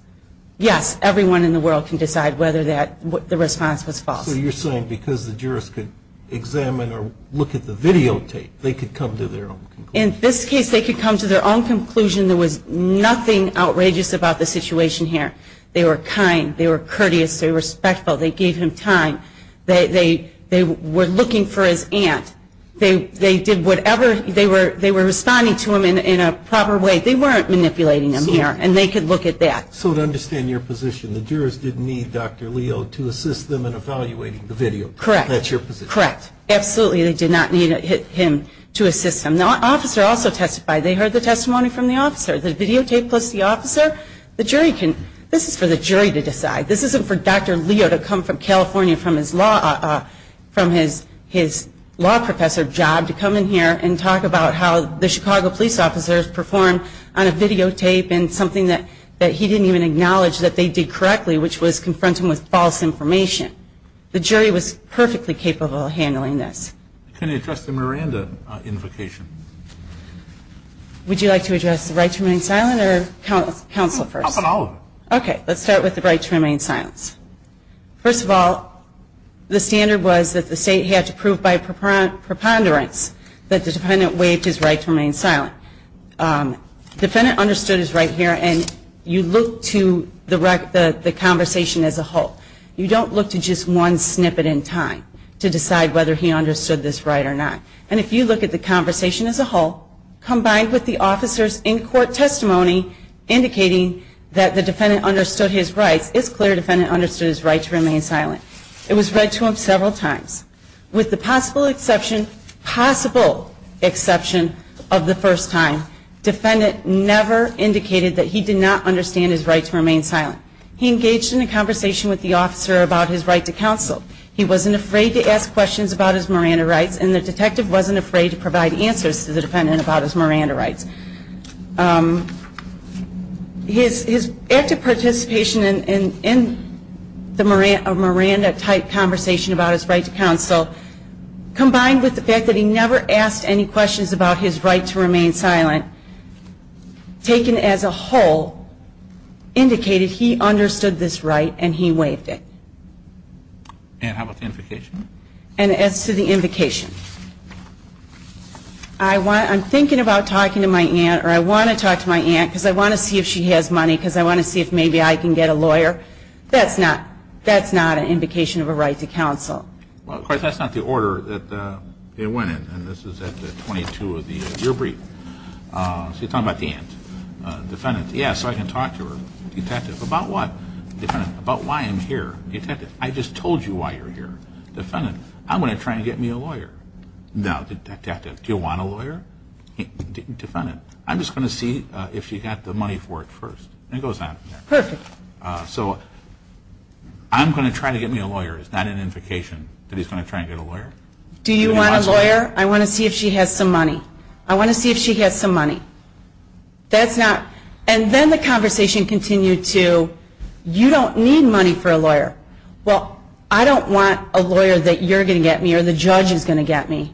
yes, everyone in the world can decide whether the response was false. So you're saying because the jurist could examine or look at the videotape, they could come to their own conclusion? In this case, they could come to their own conclusion. There was nothing outrageous about the situation here. They were kind. They were courteous. They were respectful. They gave him time. They were looking for his aunt. They did whatever. They were responding to him in a proper way. They weren't manipulating him here. And they could look at that. So to understand your position, the jurors didn't need Dr. Leo to assist them in evaluating the video. Correct. That's your position. Correct. Absolutely. They did not need him to assist them. The officer also testified. They heard the testimony from the officer. The videotape plus the officer, the jury can decide. This is for the jury to decide. This isn't for Dr. Leo to come from California from his law professor job to come in here and talk about how the Chicago police officers performed on a videotape and something that he didn't even acknowledge that they did correctly, which was confront him with false information. The jury was perfectly capable of handling this. Can you address the Miranda invocation? Would you like to address the right to remain silent or counsel first? I'll follow. Okay. Let's start with the right to remain silent. First of all, the standard was that the state had to prove by preponderance that the defendant waived his right to remain silent. Defendant understood his right here and you look to the conversation as a whole. You don't look to just one snippet in time to decide whether he understood this right or not. And if you look at the conversation as a whole, combined with the officer's in-court testimony indicating that the defendant understood his rights, it's clear the defendant understood his right to remain silent. It was read to him several times. With the possible exception of the first time, defendant never indicated that he did not understand his right to remain silent. He engaged in a conversation with the officer about his right to counsel. He wasn't afraid to ask questions about his Miranda rights and the detective wasn't afraid to provide answers to the defendant about his Miranda rights. His active participation in the Miranda-type conversation about his right to counsel, combined with the fact that he never asked any questions about his right to remain silent, taken as a whole, indicated he understood this right and he waived it. And how about the invocation? And as to the invocation, I'm thinking about talking to my aunt or I want to talk to my aunt because I want to see if she has money because I want to see if maybe I can get a lawyer. That's not an invocation of a right to counsel. Well, of course, that's not the order that it went in. And this is at the 22 of the year brief. So you're talking about the aunt. Defendant, yeah, so I can talk to her. Detective, about what? Defendant, about why I'm here. Detective, I just told you why you're here. Defendant, I'm going to try and get me a lawyer. Do you want a lawyer? Defendant, I'm just going to see if she got the money for it first. And it goes on. Perfect. I'm going to try to get me a lawyer. It's not an invocation that he's going to try and get a lawyer. Do you want a lawyer? I want to see if she has some money. I want to see if she has some money. And then the conversation continued to, you don't need money for a lawyer. Well, I don't want a lawyer that you're going to get me or the judge is going to get me.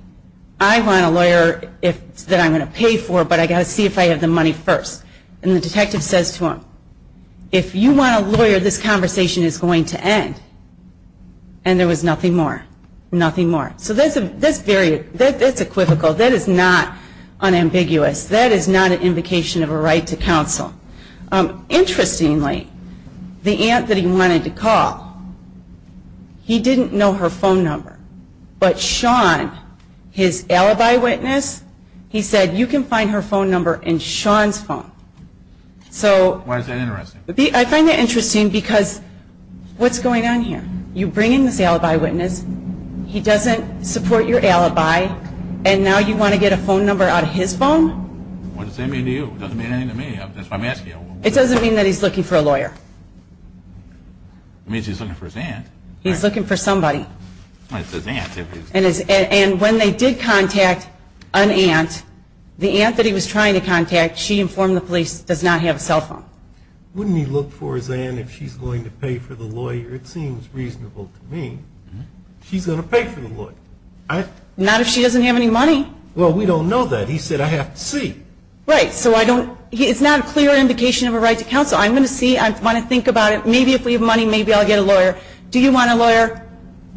I want a lawyer that I'm going to pay for, but I've got to see if I have the money first. And the detective says to him, if you want a lawyer, this conversation is going to end. And there was nothing more. Nothing more. So that's very, that's equivocal. That is not unambiguous. That is not an invocation of a right to counsel. Interestingly, the aunt that he wanted to call, he didn't know her phone number. But Sean, his alibi witness, he said, you can find her phone number in Sean's phone. Why is that interesting? I find that interesting because what's going on here? You bring in this alibi witness, he doesn't support your alibi, and now you want to get a phone number out of his phone? What does that mean to you? It doesn't mean anything to me. It doesn't mean that he's looking for a lawyer. It means he's looking for his aunt. He's looking for somebody. And when they did contact an aunt, the aunt that he was trying to contact, she informed the police, does not have a cell phone. Wouldn't he look for his aunt if she's going to pay for the lawyer? It seems reasonable to me. She's going to pay for the lawyer. Not if she doesn't have any money. Well, we don't know that. He said, I have to see. Right. So I don't, it's not a clear indication of a right to counsel. I'm going to see. I want to think about it. Maybe if we have money, maybe I'll get a lawyer. Do you want a lawyer?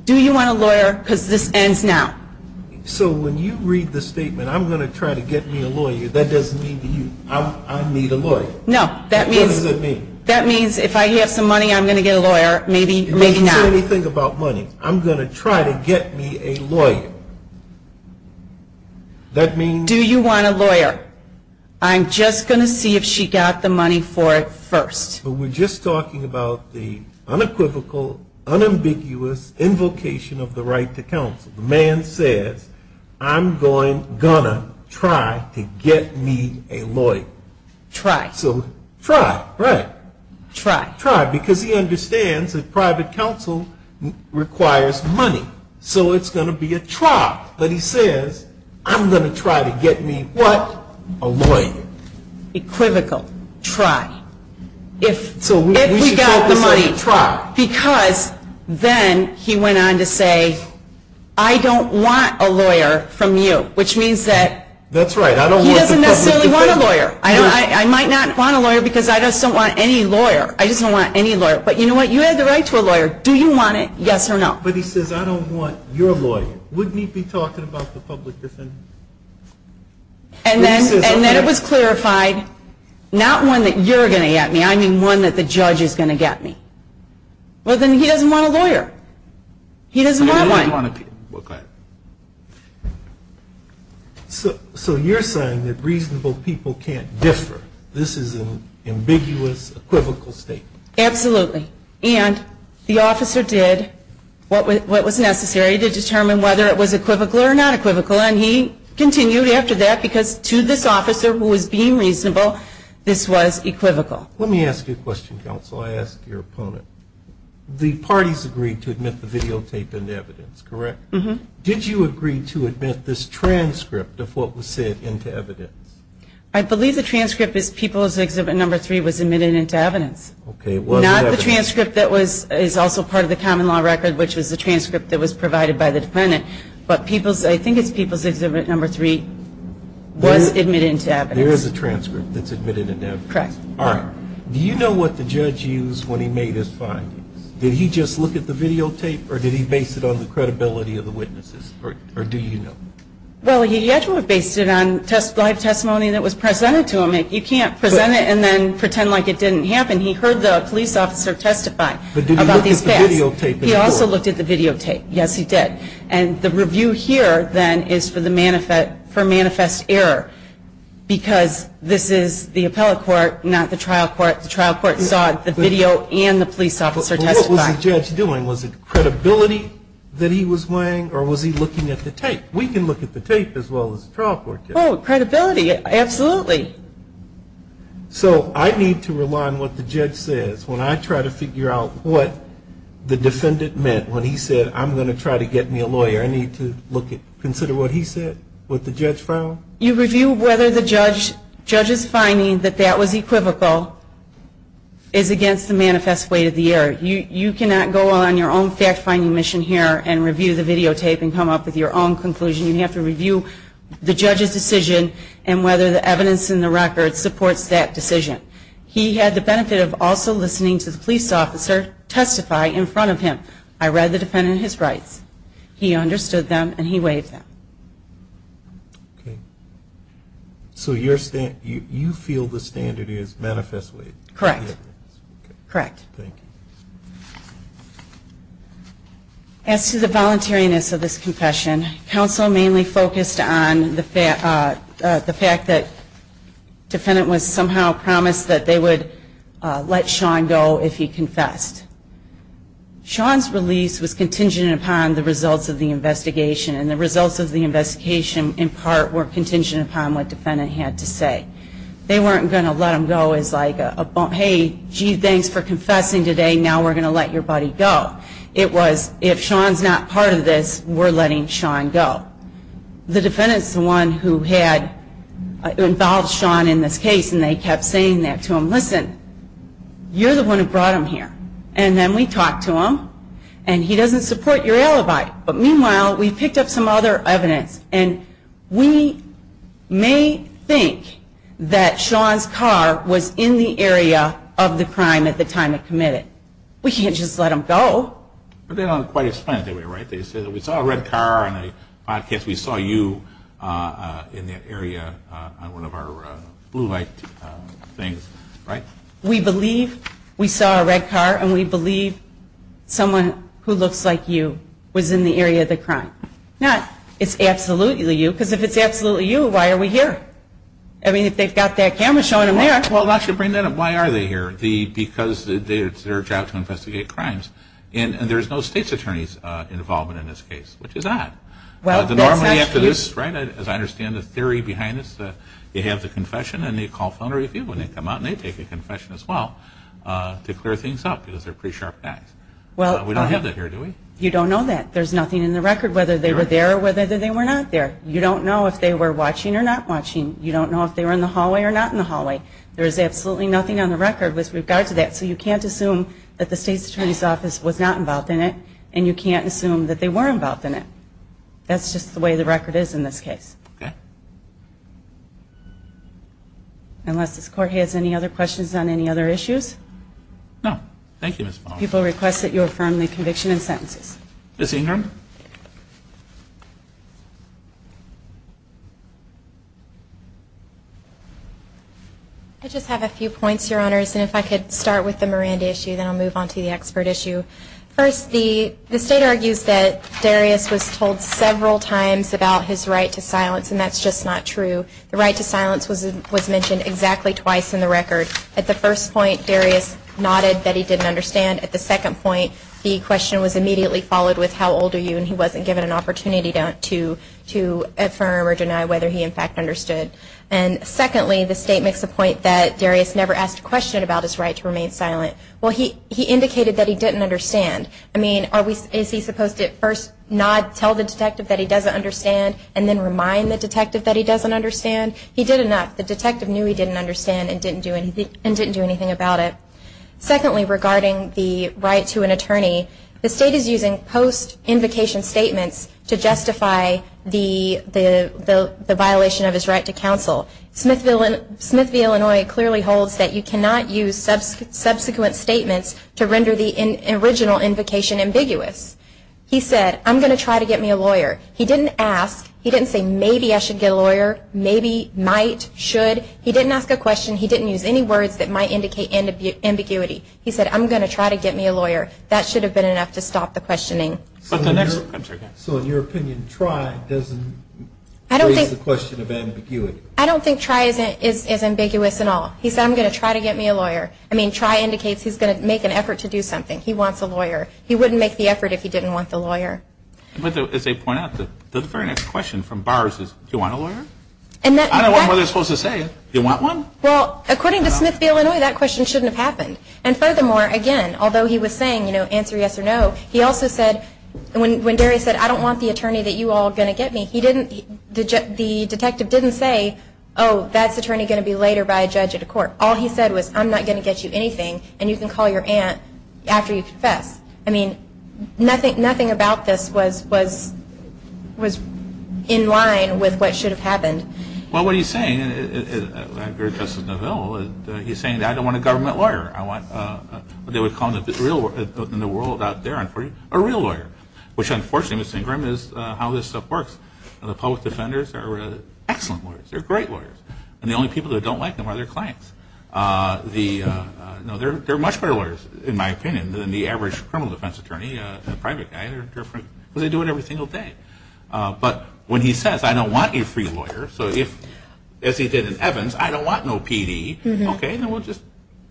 Do you want a lawyer? Because this ends now. So when you read the statement, I'm going to try to get me a lawyer, that doesn't mean to you, I need a lawyer. No. What does that mean? That means if I have some money, I'm going to get a lawyer, maybe now. It doesn't say anything about money. I'm going to try to get me a lawyer. That means? Do you want a lawyer? I'm just going to see if she got the money for it first. But we're just talking about the unequivocal, unambiguous invocation of the right to counsel. The man says, I'm going, going to try to get me a lawyer. Try. So, try. Right. Try. Try. Because he understands that private counsel requires money. So it's going to be a try. But he says, I'm going to try to get me what? A lawyer. Equivocal. Try. If we got the money, because then he went on to say, I don't want a lawyer from you, which means that he doesn't necessarily want a lawyer. I might not want a lawyer because I just don't want any lawyer. I just don't want any lawyer. But you know what? You have the right to a lawyer. Do you want it? Yes or no. But he says, I don't want your lawyer. Wouldn't he be talking about the public defender? And then it was clarified, not one that you're going to get me. I mean one that the judge is going to get me. Well, then he doesn't want a lawyer. He doesn't want one. So you're saying that reasonable people can't differ. This is an ambiguous, equivocal statement. Absolutely. And the officer did what was necessary to determine whether it was equivocal or not equivocal. And he continued after that because to this officer who was being reasonable, this was equivocal. Let me ask you a question, counsel. I ask your opponent. The parties agreed to admit the videotape into evidence, correct? Did you agree to admit this transcript of what was said into evidence? I believe the transcript is People's Exhibit Number 3 was admitted into evidence. Not the transcript that is also part of the common law record, which was the transcript that was provided by the defendant, but I think it's People's Exhibit Number 3 was admitted into evidence. There is a transcript that's admitted into evidence. Correct. Alright. Do you know what the judge used when he made his findings? Did he just look at the videotape or did he base it on the credibility of the witnesses? Or do you know? Well, the judge would have based it on live testimony that was presented to him. You can't present it and then pretend like it didn't happen. He heard the police officer testify about these facts. But did he look at the videotape? He also looked at the videotape. Yes, he did. And the review here then is for manifest error because this is the appellate court, not the trial court. The trial court saw the video and the police officer testify. But what was the judge doing? Was it credibility that he was weighing or was he looking at the tape? We can look at the tape as well as the trial court can. Oh, credibility. Absolutely. So I need to rely on what the judge says when I try to figure out what the defendant meant when he said, I'm going to try to get me a lawyer. I need to consider what he said, what the judge found. You review whether the judge's finding that that was equivocal is against the manifest weight of the error. You cannot go on your own fact-finding mission here and review the videotape and come up with your own conclusion. You have to review the judge's decision and whether the evidence in the record supports that decision. He had the benefit of also listening to the police officer testify in front of him. I read the defendant and his rights. He understood them and he weighed them. So you feel the standard is manifest weight? Correct. As to the voluntariness of this confession, counsel mainly focused on the fact that the defendant was somehow promised that they would let Sean go if he confessed. Sean's release was contingent upon the results of the investigation and the results of the investigation in part were contingent upon what the defendant had to say. They weren't going to let him go as like, hey, gee, thanks for confessing today, now we're going to let your buddy go. It was, if Sean's not part of this, we're letting Sean go. The defendant's the one who had involved Sean in this case and they kept saying that to him. Listen, you're the one who brought him here. And then we talked to him and he doesn't support your alibi. But meanwhile we picked up some other evidence and we may think that Sean's car was in the area of the crime at the time it committed. We can't just let him go. They don't quite explain it that way, right? They say we saw a red car on a podcast, we saw you in that area on one of our blue light things, right? We believe we saw a red car and we believe someone who looks like you was in the area of the crime. Not, it's absolutely you because if it's absolutely you, why are we here? I mean, if they've got that camera showing them there. Well, actually, bring that up. Why are they here? Because it's their job to investigate crimes. And there's no state's attorney's involvement in this case. Which is odd. Normally after this, as I understand the theory behind this, you have the confession and they call for an interview and they come out and they take a confession as well to clear things up because they're pretty sharp guys. We don't have that here, do we? You don't know that. There's nothing in the record whether they were there or whether they were not there. You don't know if they were watching or not watching. You don't know if they were in the hallway or not in the hallway. There's absolutely nothing on the record with regard to that. So you can't assume that the state's attorney's office was not involved in it and you can't assume that they were involved in it. That's just the way the record is in this case. Unless this court has any other questions on any other issues? No. Thank you, Ms. Baum. People request that you affirm the conviction and sentences. Ms. Ingram? I just have a few points, Your Honors. And if I could start with the Miranda issue, then I'll move on to the expert issue. First, the state argues that Darius was told several times about his right to silence, and that's just not true. The right to silence was mentioned exactly twice in the record. At the first point, Darius nodded that he didn't understand. At the second point, the question was immediately followed with how old was Darius. And the state said, well, he's older than you, and he wasn't given an opportunity to affirm or deny whether he, in fact, understood. And secondly, the state makes the point that Darius never asked a question about his right to remain silent. Well, he indicated that he didn't understand. I mean, is he supposed to first nod, tell the detective that he doesn't understand, and then remind the detective that he doesn't understand? He did enough. The detective knew he didn't understand and didn't do anything about it. Secondly, regarding the right to an attorney, the state is using post-invocation statements to justify the violation of his right to counsel. Smith v. Illinois clearly holds that you cannot use subsequent statements to render the original invocation ambiguous. He said, I'm going to try to get me a lawyer. He didn't ask. He didn't say maybe I should get a lawyer, maybe, might, should. He didn't ask a question. He didn't use any words that might indicate ambiguity. He said, I'm going to try to get me a lawyer. That should have been enough to stop the questioning. So in your opinion, try doesn't raise the question of ambiguity? I don't think try is ambiguous at all. He said, I'm going to try to get me a lawyer. I mean, try indicates he's going to make an effort to do something. He wants a lawyer. But as they point out, the very next question from Barr is, do you want a lawyer? I don't know what they're supposed to say. Do you want one? Well, according to Smith v. Illinois, that question shouldn't have happened. And furthermore, again, although he was saying, you know, answer yes or no, he also said, when Darryl said, I don't want the attorney that you all are going to get me, the detective didn't say, oh, that's attorney going to be later by a judge at a court. All he said was, I'm not going to get you anything, and you can call your aunt after you confess. I mean, nothing about this was in line with what should have happened. Well, what he's saying, and I agree with Justice Neville, he's saying, I don't want a government lawyer. I want what they would call in the world out there, unfortunately, a real lawyer, which unfortunately, Ms. Singram, is how this stuff works. The public defenders are excellent lawyers. They're great lawyers. And the only people that don't like them are their clients. They're much better lawyers, in my opinion, than the average criminal defense attorney, the private guy. They do it every single day. But when he says, I don't want a free lawyer, as he did in Evans, I don't want no PD, okay, then we'll just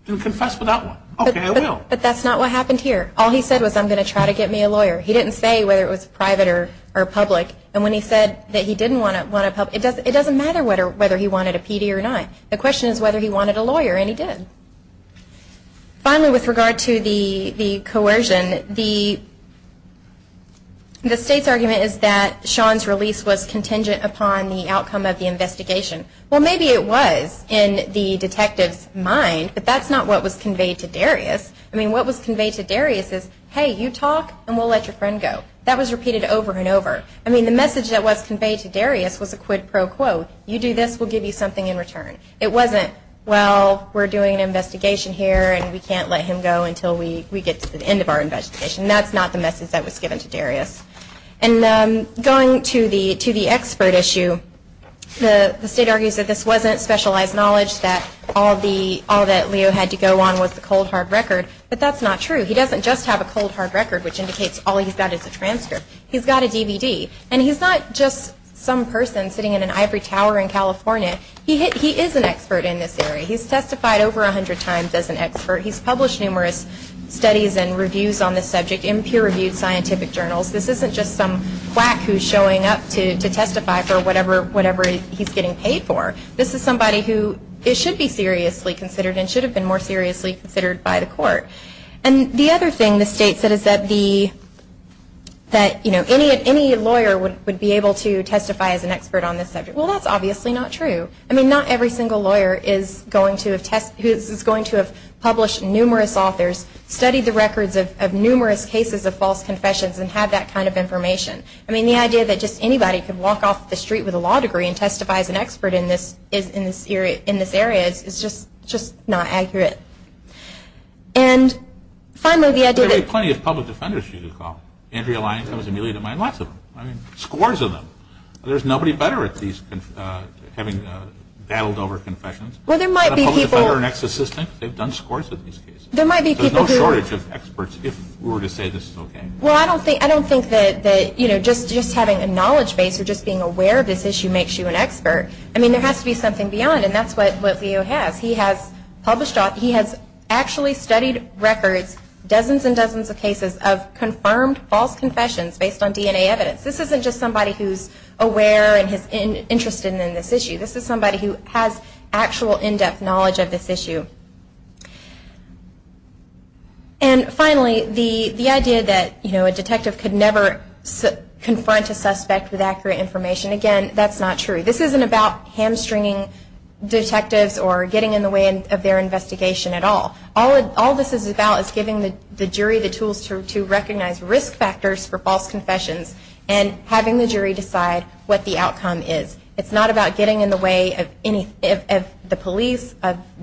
confess without one. Okay, I will. But that's not what happened here. All he said was, I'm going to try to get me a lawyer. He didn't say whether it was private or public. And when he said that he didn't want a public, it doesn't matter whether he wanted a PD or not. The question is whether he wanted a lawyer, and he did. Finally, with regard to the coercion, the state's argument is that Sean's release was contingent upon the outcome of the investigation. Well, maybe it was in the detective's mind, but that's not what was conveyed to Darius. I mean, what was conveyed to Darius is, hey, you talk, and we'll let your friend go. That was repeated over and over. I mean, the message that was conveyed to Darius was a quid pro quo. You do this, we'll give you something in return. It wasn't, well, we're doing an investigation here, and we can't let him go until we get to the end of our investigation. That's not the message that was given to Darius. Going to the expert issue, the state argues that this wasn't specialized knowledge, that all that Leo had to go on was the cold, hard record. But that's not true. He doesn't just have a cold, hard record, which indicates all he's got is a transcript. He's got a DVD. And he's not just some person sitting in an ivory tower in California. He is an expert in this area. He's testified over a hundred times as an expert. He's published numerous studies and reviews on this subject in peer-reviewed scientific journals. This isn't just some quack who's showing up to testify for whatever he's getting paid for. This is somebody who should be seriously considered and should have been more seriously considered by the court. And the other thing the state said is that any lawyer would be able to testify as an expert on this subject. Well, that's obviously not true. I mean, not every single lawyer is going to have published numerous authors, studied the records of numerous cases of false confessions, and had that kind of information. I mean, the idea that just anybody could walk off the street with a law degree and testify as an expert in this area is just not accurate. And finally, the idea that... There would be plenty of public defenders here to call. Andrea Lyon comes to mind. Lots of them. I mean, scores of them. There's nobody better at having battled over confessions than a public defender and ex-assistant. They've done scores of these cases. There's no shortage of experts if we were to say this is okay. Well, I don't think that just having a knowledge base or just being aware of this issue makes you an expert. I mean, there has to be something beyond, and that's what Leo has. He has actually studied records, dozens and dozens of cases of confirmed false confessions based on DNA evidence. This isn't just somebody who's aware and is interested in this issue. This is somebody who has actual in-depth knowledge of this issue. And finally, the idea that a detective could never confront a suspect with accurate information. Again, that's not true. This isn't about hamstringing detectives or getting in the way of their investigation at all. All this is about is giving the jury the tools to recognize risk factors for false confessions and having the jury decide what the outcome is. It's not about getting in the way of the police.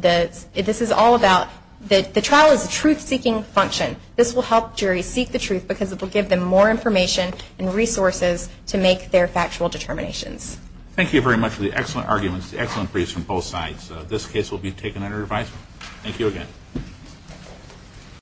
This is all about the trial is a truth-seeking function. This will help juries seek the truth because it will give them more information and resources to make their factual determinations. Thank you very much for the excellent arguments, the excellent briefs from both sides. This case will be taken under revise. Thank you again.